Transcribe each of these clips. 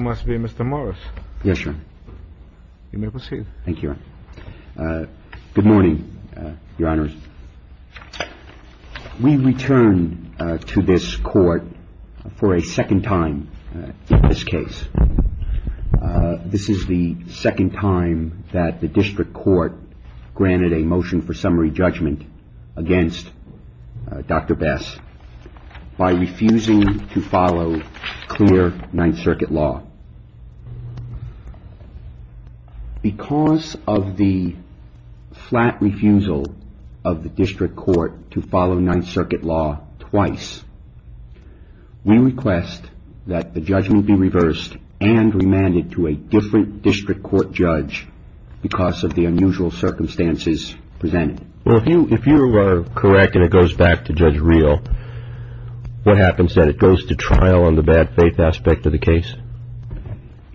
You must be Mr. Morris. Yes, Your Honor. You may proceed. Thank you, Your Honor. Good morning, Your Honors. We return to this court for a second time in this case. This is the second time that the district court granted a motion for summary judgment against Dr. Bess by refusing to follow clear Ninth Circuit law. Because of the flat refusal of the district court to follow Ninth Circuit law twice, we request that the judgment be reversed and remanded to a different district court judge because of the unusual circumstances presented. Well, if you are correct and it goes back to Judge Real, what happens then? It goes to trial on the bad faith aspect of the case?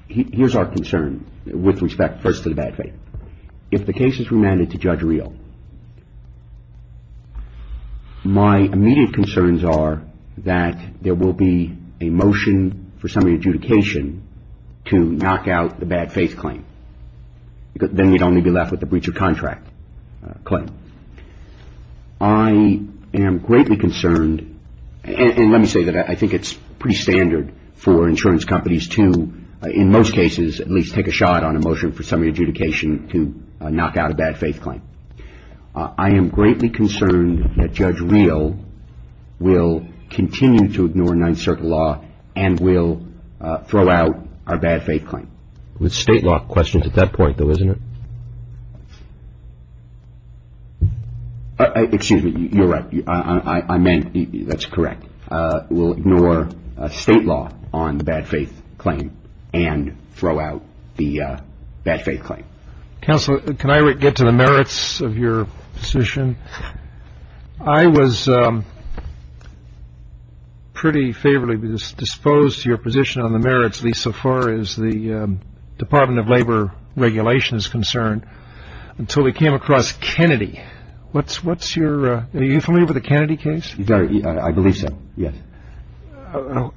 Here's our concern with respect first to the bad faith. If the case is remanded to Judge Real, my immediate concerns are that there will be a motion for summary adjudication to knock out the bad faith claim. Then you'd only be left with the breach of contract claim. I am greatly concerned, and let me say that I think it's pretty standard for insurance companies to, in most cases, at least take a shot on a motion for summary adjudication to knock out a bad faith claim. I am greatly concerned that Judge Real will continue to ignore Ninth Circuit law and will throw out our bad faith claim. With state law questions at that point, though, isn't it? Excuse me. You're right. I meant that's correct. We'll ignore state law on the bad faith claim and throw out the bad faith claim. Counselor, can I get to the merits of your position? I was pretty favorably disposed to your position on the merits, at least so far as the Department of Labor regulation is concerned, until we came across Kennedy. Are you familiar with the Kennedy case? I believe so, yes.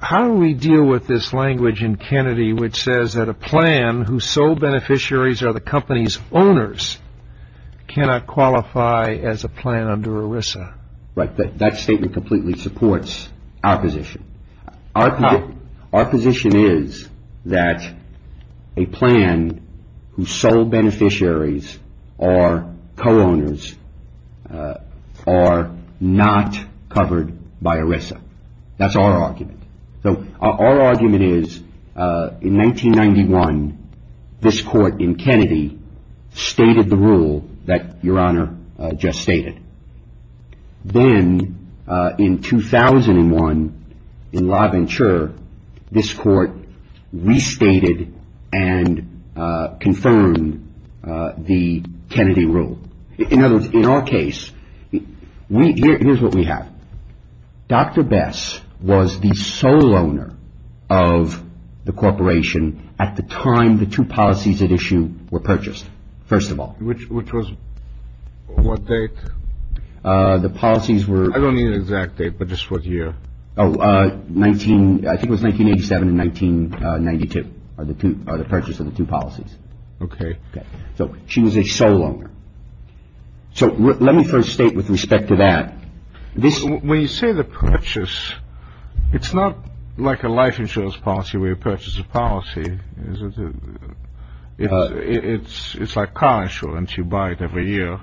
How do we deal with this language in Kennedy which says that a plan whose sole beneficiaries are the company's owners cannot qualify as a plan under ERISA? Right. That statement completely supports our position. Our position is that a plan whose sole beneficiaries are co-owners are not covered by ERISA. That's our argument. So our argument is in 1991 this court in Kennedy stated the rule that Your Honor just stated. Then in 2001 in LaVenture, this court restated and confirmed the Kennedy rule. In other words, in our case, here's what we have. Dr. Bess was the sole owner of the corporation at the time the two policies at issue were purchased, first of all. Which was what date? The policies were... I don't need an exact date, but just what year. I think it was 1987 and 1992 are the purchase of the two policies. Okay. So she was a sole owner. So let me first state with respect to that. When you say the purchase, it's not like a life insurance policy where you purchase a policy, is it? It's like car insurance, you buy it every year.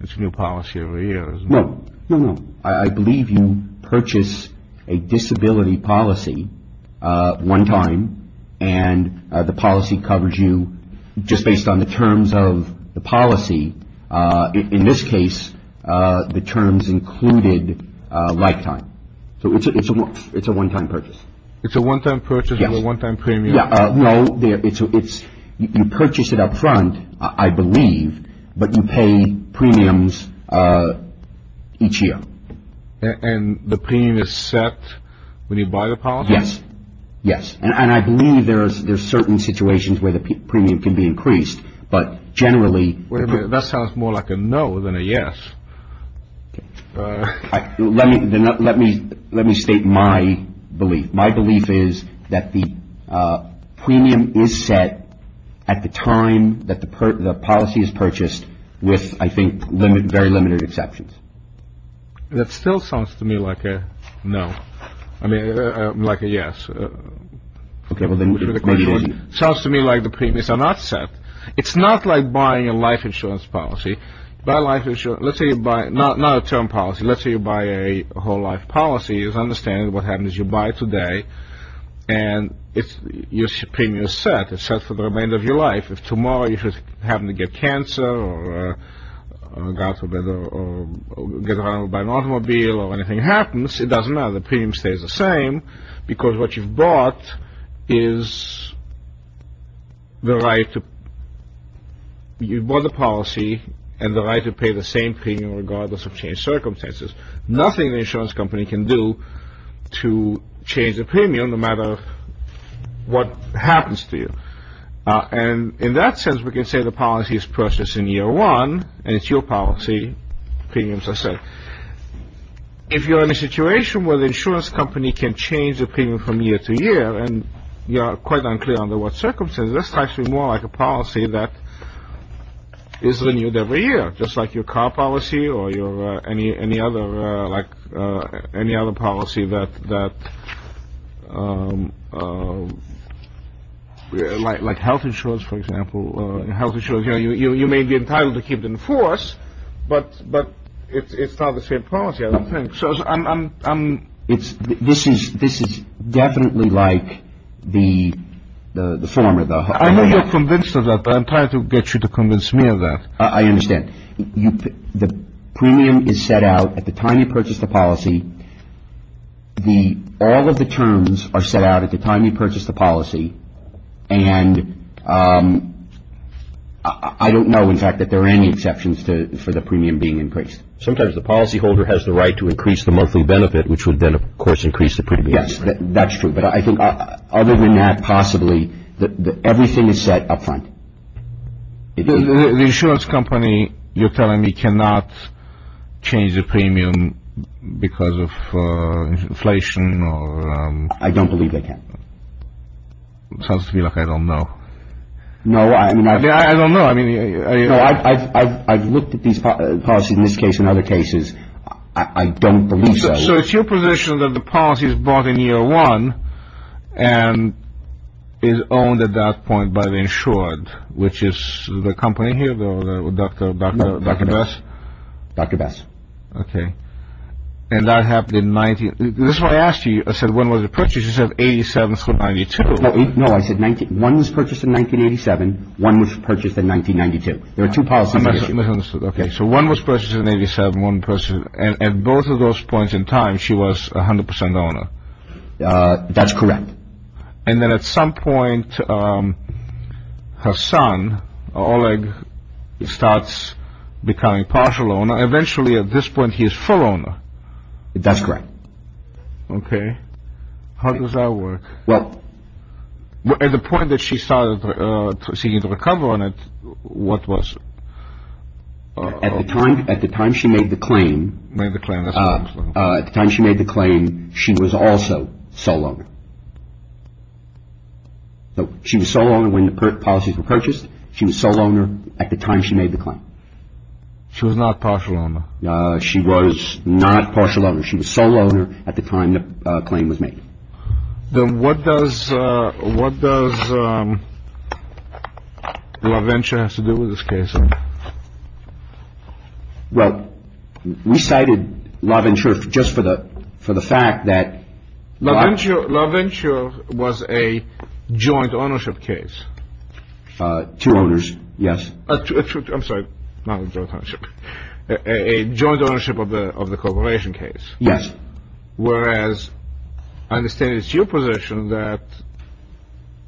It's a new policy every year, isn't it? No, no, no. I believe you purchase a disability policy one time and the policy covers you just based on the terms of the policy. In this case, the terms included lifetime. So it's a one-time purchase. It's a one-time purchase or a one-time premium? No, you purchase it up front, I believe, but you pay premiums each year. And the premium is set when you buy the policy? Yes, yes. And I believe there are certain situations where the premium can be increased, but generally... That sounds more like a no than a yes. Let me state my belief. My belief is that the premium is set at the time that the policy is purchased with, I think, very limited exceptions. That still sounds to me like a no. I mean, like a yes. Sounds to me like the premiums are not set. It's not like buying a life insurance policy. Let's say you buy not a term policy. Let's say you buy a whole life policy. It's understandable. What happens is you buy it today and your premium is set. It's set for the remainder of your life. If tomorrow you happen to get cancer or get run over by an automobile or anything happens, it doesn't matter. The premium stays the same because what you've bought is the right to... You've bought the policy and the right to pay the same premium regardless of changed circumstances. Nothing the insurance company can do to change the premium no matter what happens to you. And in that sense, we can say the policy is purchased in year one and it's your policy. Premiums are set. If you're in a situation where the insurance company can change the premium from year to year and you're quite unclear under what circumstances, that's actually more like a policy that is renewed every year, just like your car policy or any other policy that... Like health insurance, for example. You may be entitled to keep it in force, but it's not the same policy, I don't think. This is definitely like the former. I know you're convinced of that, but I'm trying to get you to convince me of that. I understand. The premium is set out at the time you purchase the policy. All of the terms are set out at the time you purchase the policy. And I don't know, in fact, that there are any exceptions for the premium being increased. Sometimes the policyholder has the right to increase the monthly benefit, which would then, of course, increase the premium. Yes, that's true. But I think other than that, possibly, everything is set up front. The insurance company, you're telling me, cannot change the premium because of inflation or... I don't believe they can. It sounds to me like I don't know. No, I mean... I don't know, I mean... No, I've looked at these policies in this case and other cases. I don't believe so. So it's your position that the policy is bought in year one and is owned at that point by the insured, which is the company here, Dr. Best? Dr. Best. Okay. And that happened in 19... This is why I asked you, I said, when was it purchased? You said 87 through 92. No, I said one was purchased in 1987, one was purchased in 1992. There are two policies. I misunderstood. Okay. So one was purchased in 87, one purchased... And at both of those points in time, she was 100% owner. That's correct. And then at some point, her son, Oleg, starts becoming partial owner. Eventually, at this point, he is full owner. That's correct. Okay. How does that work? Well... At the point that she started seeking to recover on it, what was... At the time she made the claim... Made the claim. At the time she made the claim, she was also sole owner. She was sole owner when the policies were purchased. She was sole owner at the time she made the claim. She was not partial owner. She was not partial owner. She was sole owner at the time the claim was made. Then what does LaVenture have to do with this case? Well, we cited LaVenture just for the fact that... LaVenture was a joint ownership case. Two owners, yes. I'm sorry, not a joint ownership. A joint ownership of the corporation case. Yes. Whereas, I understand it's your position that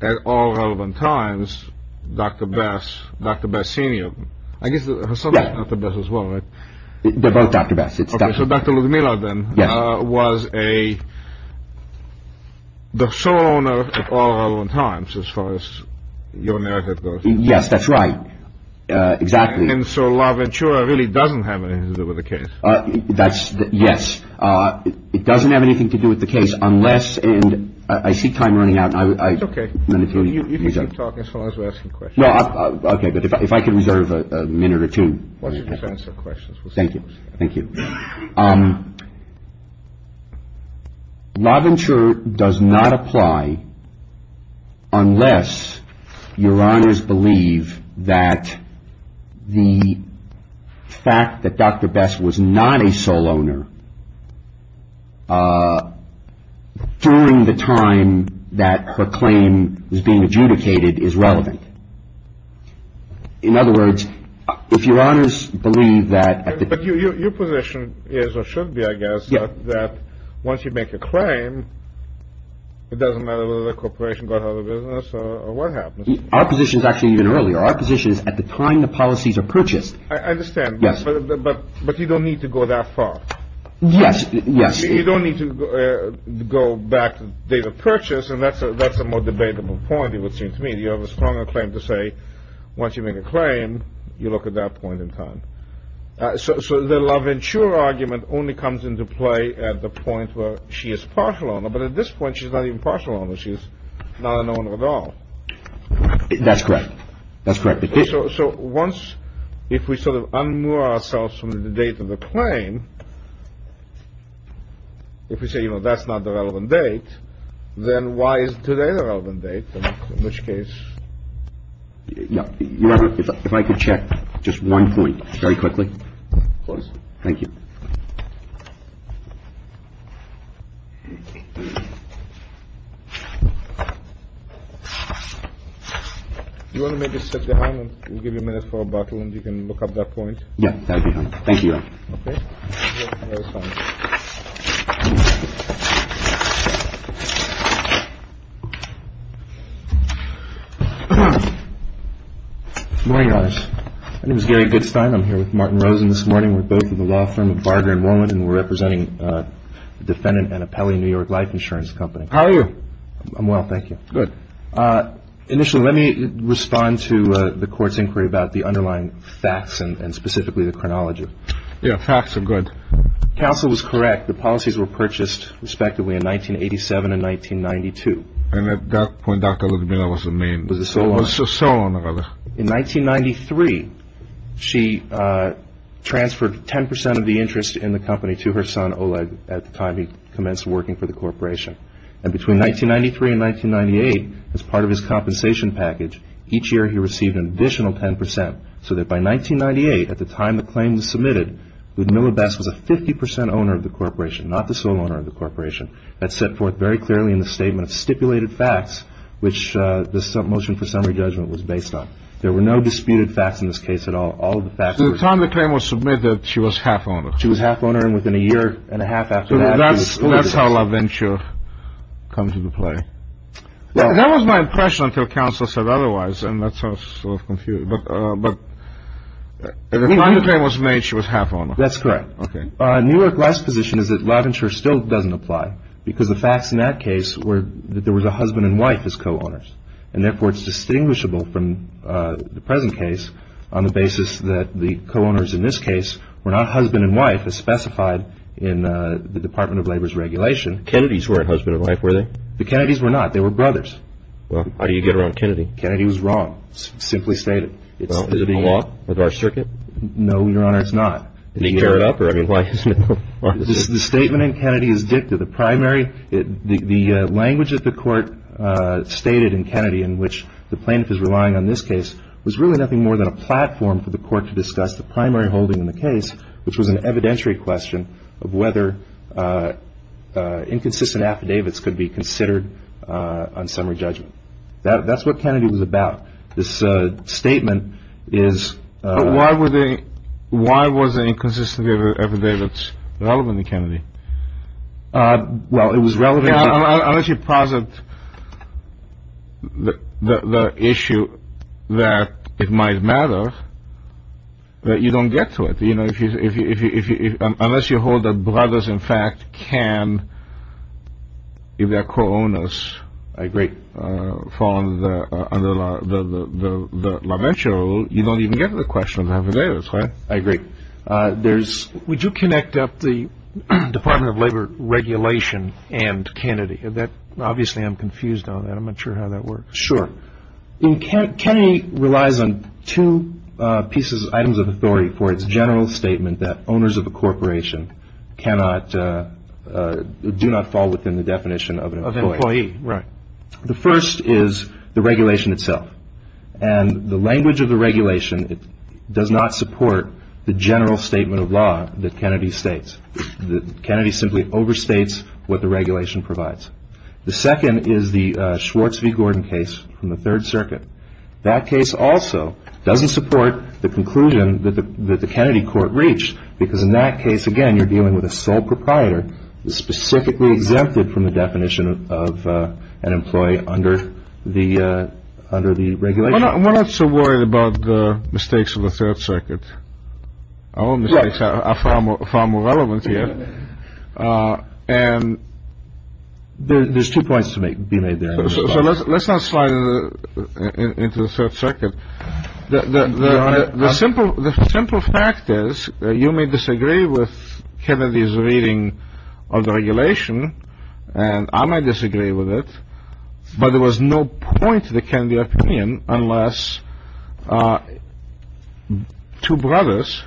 at all relevant times, Dr. Bess, Dr. Bess Sr. I guess her son is Dr. Bess as well, right? They're both Dr. Bess. Okay, so Dr. Ludmilla then was a... The sole owner at all relevant times as far as your narrative goes. Yes, that's right. Exactly. And so LaVenture really doesn't have anything to do with the case. That's... Yes. It doesn't have anything to do with the case unless... I see time running out. It's okay. You can talk as long as we're asking questions. Okay, but if I could reserve a minute or two. Why don't you just answer questions? Thank you. Thank you. LaVenture does not apply unless your honors believe that the fact that Dr. Bess was not a sole owner during the time that her claim is being adjudicated is relevant. In other words, if your honors believe that... Your position is or should be, I guess, that once you make a claim, it doesn't matter whether the corporation got out of business or what happens. Our position is actually even earlier. Our position is at the time the policies are purchased... I understand. Yes. But you don't need to go that far. Yes. Yes. You don't need to go back to date of purchase, and that's a more debatable point, it would seem to me. You have a stronger claim to say once you make a claim, you look at that point in time. So the LaVenture argument only comes into play at the point where she is partial owner. But at this point, she's not even partial owner. She's not an owner at all. That's correct. That's correct. So once, if we sort of unmoor ourselves from the date of the claim, if we say, you know, that's not the relevant date, then why is today the relevant date? In which case... If I could check just one point very quickly. Please. Thank you. Do you want to maybe sit behind? We'll give you a minute for a bottle and you can look up that point. Yes, that would be fine. Thank you. Okay. Good morning, Your Honor. My name is Gary Goodstein. I'm here with Martin Rosen this morning. We're both with the law firm of Barger and Rowan, and we're representing the defendant, Annapelli New York Life Insurance Company. How are you? I'm well, thank you. Good. Initially, let me respond to the court's inquiry about the underlying facts and specifically the chronology. Yeah, facts are good. Counsel was correct. The policies were purchased respectively in 1987 and 1992. And at that point, Dr. Ludmilla was the main... Was the sole owner. Was the sole owner of it. In 1993, she transferred 10% of the interest in the company to her son, Oleg, at the time he commenced working for the corporation. And between 1993 and 1998, as part of his compensation package, each year he received an additional 10%, so that by 1998, at the time the claim was submitted, Ludmilla Best was a 50% owner of the corporation, not the sole owner of the corporation. That's set forth very clearly in the Statement of Stipulated Facts, which the motion for summary judgment was based on. There were no disputed facts in this case at all. All the facts were... At the time the claim was submitted, she was half owner. She was half owner, and within a year and a half after that... That's how LaVenture comes into play. That was my impression until counsel said otherwise, and that's how I was sort of confused. But at the time the claim was made, she was half owner. That's correct. Newark Life's position is that LaVenture still doesn't apply, because the facts in that case were that there was a husband and wife as co-owners, and therefore it's distinguishable from the present case on the basis that the co-owners in this case were not husband and wife, as specified in the Department of Labor's regulation. The Kennedys weren't husband and wife, were they? The Kennedys were not. They were brothers. Well, how do you get around Kennedy? Kennedy was wrong. It's simply stated. Well, is it in the law with our circuit? No, Your Honor, it's not. Did he tear it up? The statement in Kennedy is dicta. The language that the court stated in Kennedy in which the plaintiff is relying on this case was really nothing more than a platform for the court to discuss the primary holding in the case, which was an evidentiary question of whether inconsistent affidavits could be considered on summary judgment. That's what Kennedy was about. This statement is... Why was the inconsistency affidavits relevant in Kennedy? Well, it was relevant... Unless you posit the issue that it might matter, you don't get to it. Unless you hold that brothers, in fact, can, if they're co-owners, I agree, fall under the law, you don't even get to the question of affidavits, right? I agree. Would you connect up the Department of Labor regulation and Kennedy? Obviously, I'm confused on that. I'm not sure how that works. Sure. Kennedy relies on two items of authority for its general statement that owners of a corporation do not fall within the definition of an employee. Right. The first is the regulation itself. And the language of the regulation does not support the general statement of law that Kennedy states. Kennedy simply overstates what the regulation provides. The second is the Schwartz v. Gordon case from the Third Circuit. That case also doesn't support the conclusion that the Kennedy court reached, because in that case, again, you're dealing with a sole proprietor and specifically exempted from the definition of an employee under the regulation. Well, I'm not so worried about the mistakes of the Third Circuit. Our own mistakes are far more relevant here. And there's two points to be made there. So let's not slide into the Third Circuit. The simple fact is that you may disagree with Kennedy's reading of the regulation, and I might disagree with it, but there was no point to the Kennedy opinion unless two brothers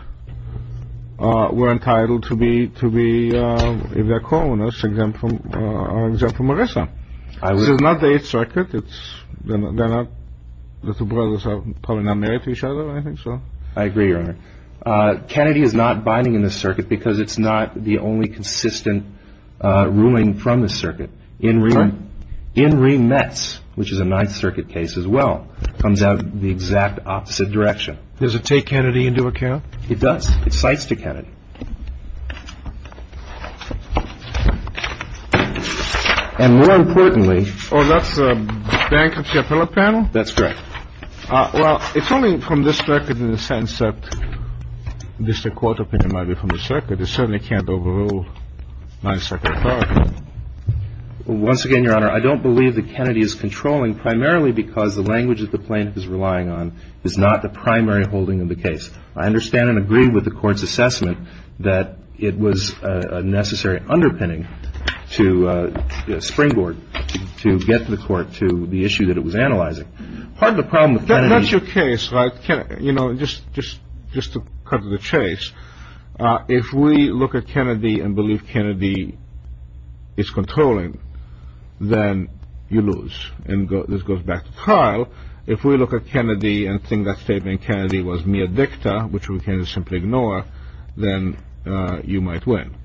were entitled to be, if they're co-owners, exempt from ERISA. This is not the Eighth Circuit. The two brothers are probably not married to each other. I think so. I agree, Your Honor. Kennedy is not binding in the circuit because it's not the only consistent ruling from the circuit. In re-mets, which is a Ninth Circuit case as well, comes out the exact opposite direction. Does it take Kennedy into account? It does. It cites to Kennedy. And more importantly— Oh, that's a bankruptcy appellate panel? That's correct. Well, it's only from this circuit in the sense that this court opinion might be from the circuit. It certainly can't overrule Ninth Circuit authority. Once again, Your Honor, I don't believe that Kennedy is controlling primarily because the language that the plaintiff is relying on is not the primary holding of the case. I understand and agree with the Court's assessment. That it was a necessary underpinning to springboard to get the Court to the issue that it was analyzing. Part of the problem with Kennedy— That's your case, right? You know, just to cut to the chase, if we look at Kennedy and believe Kennedy is controlling, then you lose. And this goes back to trial. If we look at Kennedy and think that statement Kennedy was mere dicta, which we can simply ignore, then you might win.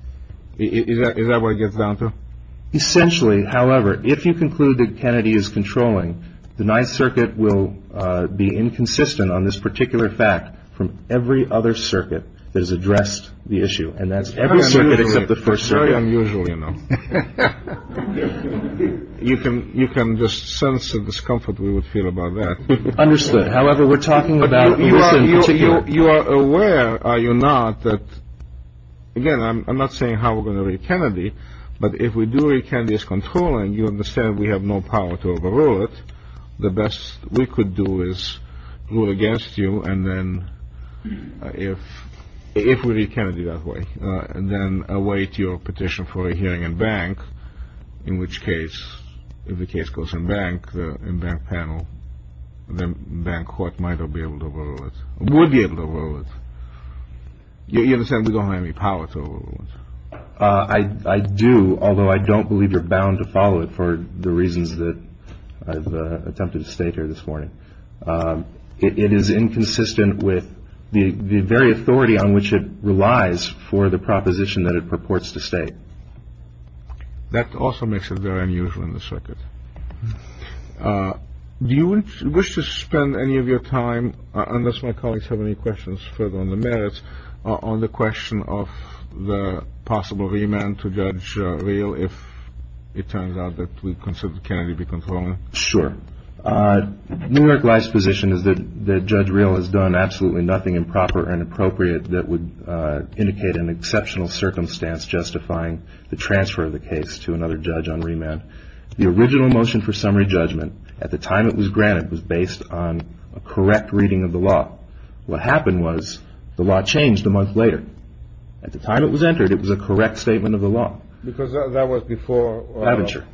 Is that what it gets down to? Essentially, however, if you conclude that Kennedy is controlling, the Ninth Circuit will be inconsistent on this particular fact from every other circuit that has addressed the issue. And that's every circuit except the First Circuit. Very unusual, you know. You can just sense the discomfort we would feel about that. Understood. However, we're talking about— You are aware, are you not, that, again, I'm not saying how we're going to read Kennedy, but if we do read Kennedy as controlling, you understand we have no power to overrule it. The best we could do is rule against you, and then if we read Kennedy that way, then await your petition for a hearing in bank, in which case, if the case goes in bank, in bank panel, then bank court might be able to overrule it, would be able to overrule it. You understand we don't have any power to overrule it. I do, although I don't believe you're bound to follow it for the reasons that I've attempted to state here this morning. It is inconsistent with the very authority on which it relies for the proposition that it purports to state. That also makes it very unusual in the circuit. Do you wish to spend any of your time, unless my colleagues have any questions further on the merits, on the question of the possible remand to Judge Real if it turns out that we consider Kennedy to be controlling? Sure. New York Life's position is that Judge Real has done absolutely nothing improper and appropriate that would indicate an exceptional circumstance justifying the transfer of the case to another judge on remand. The original motion for summary judgment, at the time it was granted, was based on a correct reading of the law. What happened was the law changed a month later. At the time it was entered, it was a correct statement of the law. Because that was before? Laventure.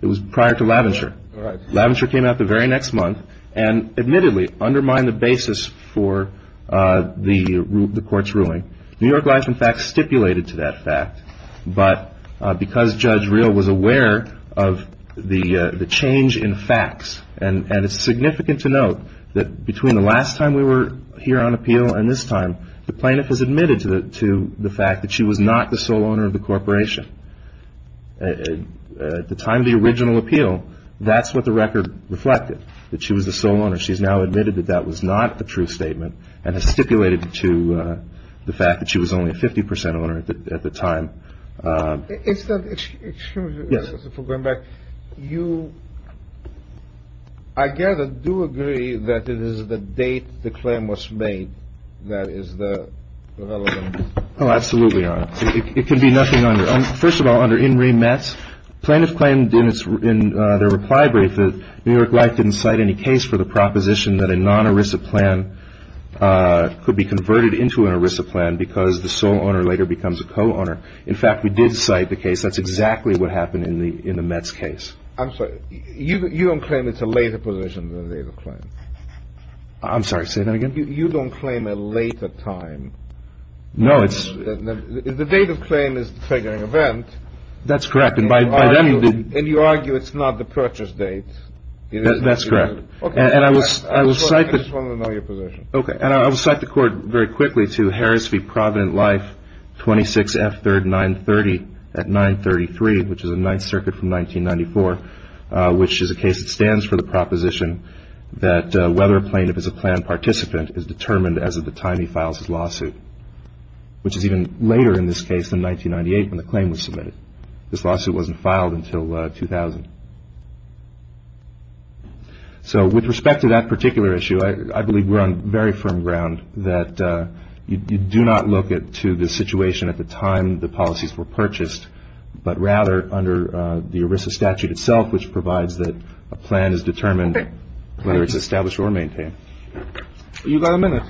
It was prior to Laventure. Laventure came out the very next month and admittedly undermined the basis for the court's ruling. New York Life, in fact, stipulated to that fact. But because Judge Real was aware of the change in facts, and it's significant to note that between the last time we were here on appeal and this time, the plaintiff has admitted to the fact that she was not the sole owner of the corporation. At the time of the original appeal, that's what the record reflected, that she was the sole owner. She's now admitted that that was not the true statement and has stipulated to the fact that she was only a 50 percent owner at the time. Excuse me for going back. You, I gather, do agree that it is the date the claim was made that is the relevant? Oh, absolutely, Your Honor. It can be nothing under. First of all, under in remit, plaintiff claimed in their reply brief that New York Life didn't cite any case for the proposition that a non-ERISA plan could be converted into an ERISA plan because the sole owner later becomes a co-owner. In fact, we did cite the case. That's exactly what happened in the Mets case. I'm sorry. You don't claim it's a later position than the date of claim. I'm sorry. Say that again. You don't claim a later time. No, it's. The date of claim is the figuring event. That's correct. And by then you did. And you argue it's not the purchase date. That's correct. And I will cite the. I just want to know your position. Okay. And I will cite the court very quickly to Harris v. Providence Life 26F3rd 930 at 933, which is a Ninth Circuit from 1994, which is a case that stands for the proposition that whether a plaintiff is a plan participant is determined as of the time he files his lawsuit, which is even later in this case than 1998 when the claim was submitted. This lawsuit wasn't filed until 2000. So with respect to that particular issue, I believe we're on very firm ground that you do not look to the situation at the time the policies were purchased, but rather under the ERISA statute itself, which provides that a plan is determined whether it's established or maintained. You've got a minute.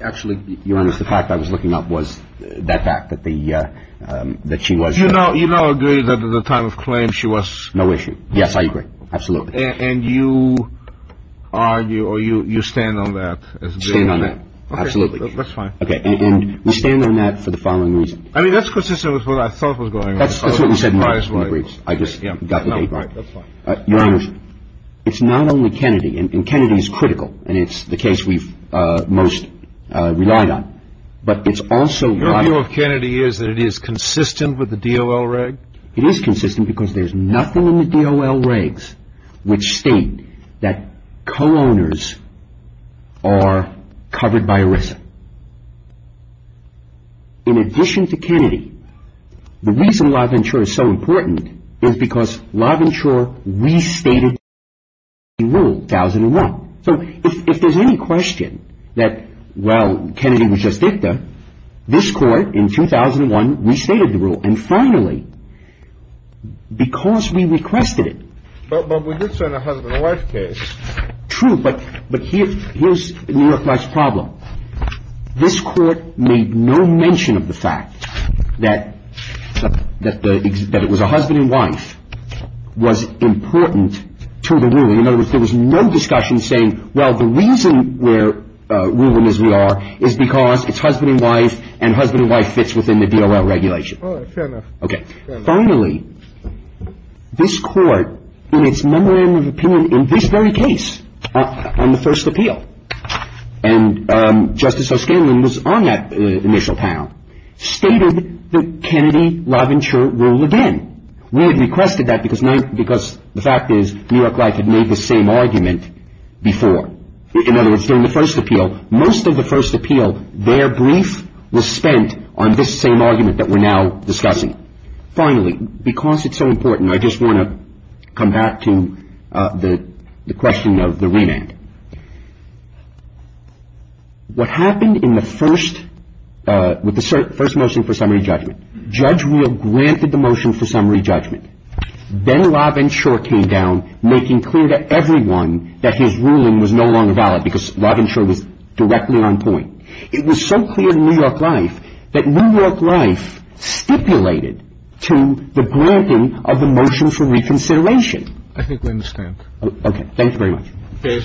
Actually, Your Honor, the fact I was looking up was that fact that the that she was, you know, you know, agree that at the time of claim she was no issue. Yes, I agree. Absolutely. And you argue or you stand on that? Stand on it. Absolutely. That's fine. Okay. And you stand on that for the following reason. I mean, that's consistent with what I thought was going on. That's what you said. I just got the date right. That's fine. Your Honor, it's not only Kennedy. And Kennedy is critical. And it's the case we've most relied on. But it's also. Your view of Kennedy is that it is consistent with the D.O.L. reg? It is consistent because there's nothing in the D.O.L. regs which state that co-owners are covered by ERISA. In addition to Kennedy, the reason LaVenture is so important is because LaVenture restated the rule in 2001. So if there's any question that, well, Kennedy was just dicta, this court in 2001 restated the rule. And finally, because we requested it. But we did send a husband and wife case. True. But here's New York Life's problem. This court made no mention of the fact that it was a husband and wife was important to the ruling. In other words, there was no discussion saying, well, the reason we're ruling as we are is because it's husband and wife. And husband and wife fits within the D.O.L. regulation. Fair enough. Okay. Finally, this court in its memorandum of opinion in this very case on the first appeal, and Justice O'Scanlan was on that initial panel, stated that Kennedy, LaVenture rule again. We had requested that because the fact is New York Life had made the same argument before. In other words, during the first appeal, most of the first appeal, their brief was spent on this same argument that we're now discussing. Finally, because it's so important, I just want to come back to the question of the remand. What happened in the first, with the first motion for summary judgment? Judge Real granted the motion for summary judgment. Then LaVenture came down, making clear to everyone that his ruling was no longer valid because LaVenture was directly on point. It was so clear to New York Life that New York Life stipulated to the granting of the motion for reconsideration. I think we understand. Okay. Thank you very much. Okay. Thank you.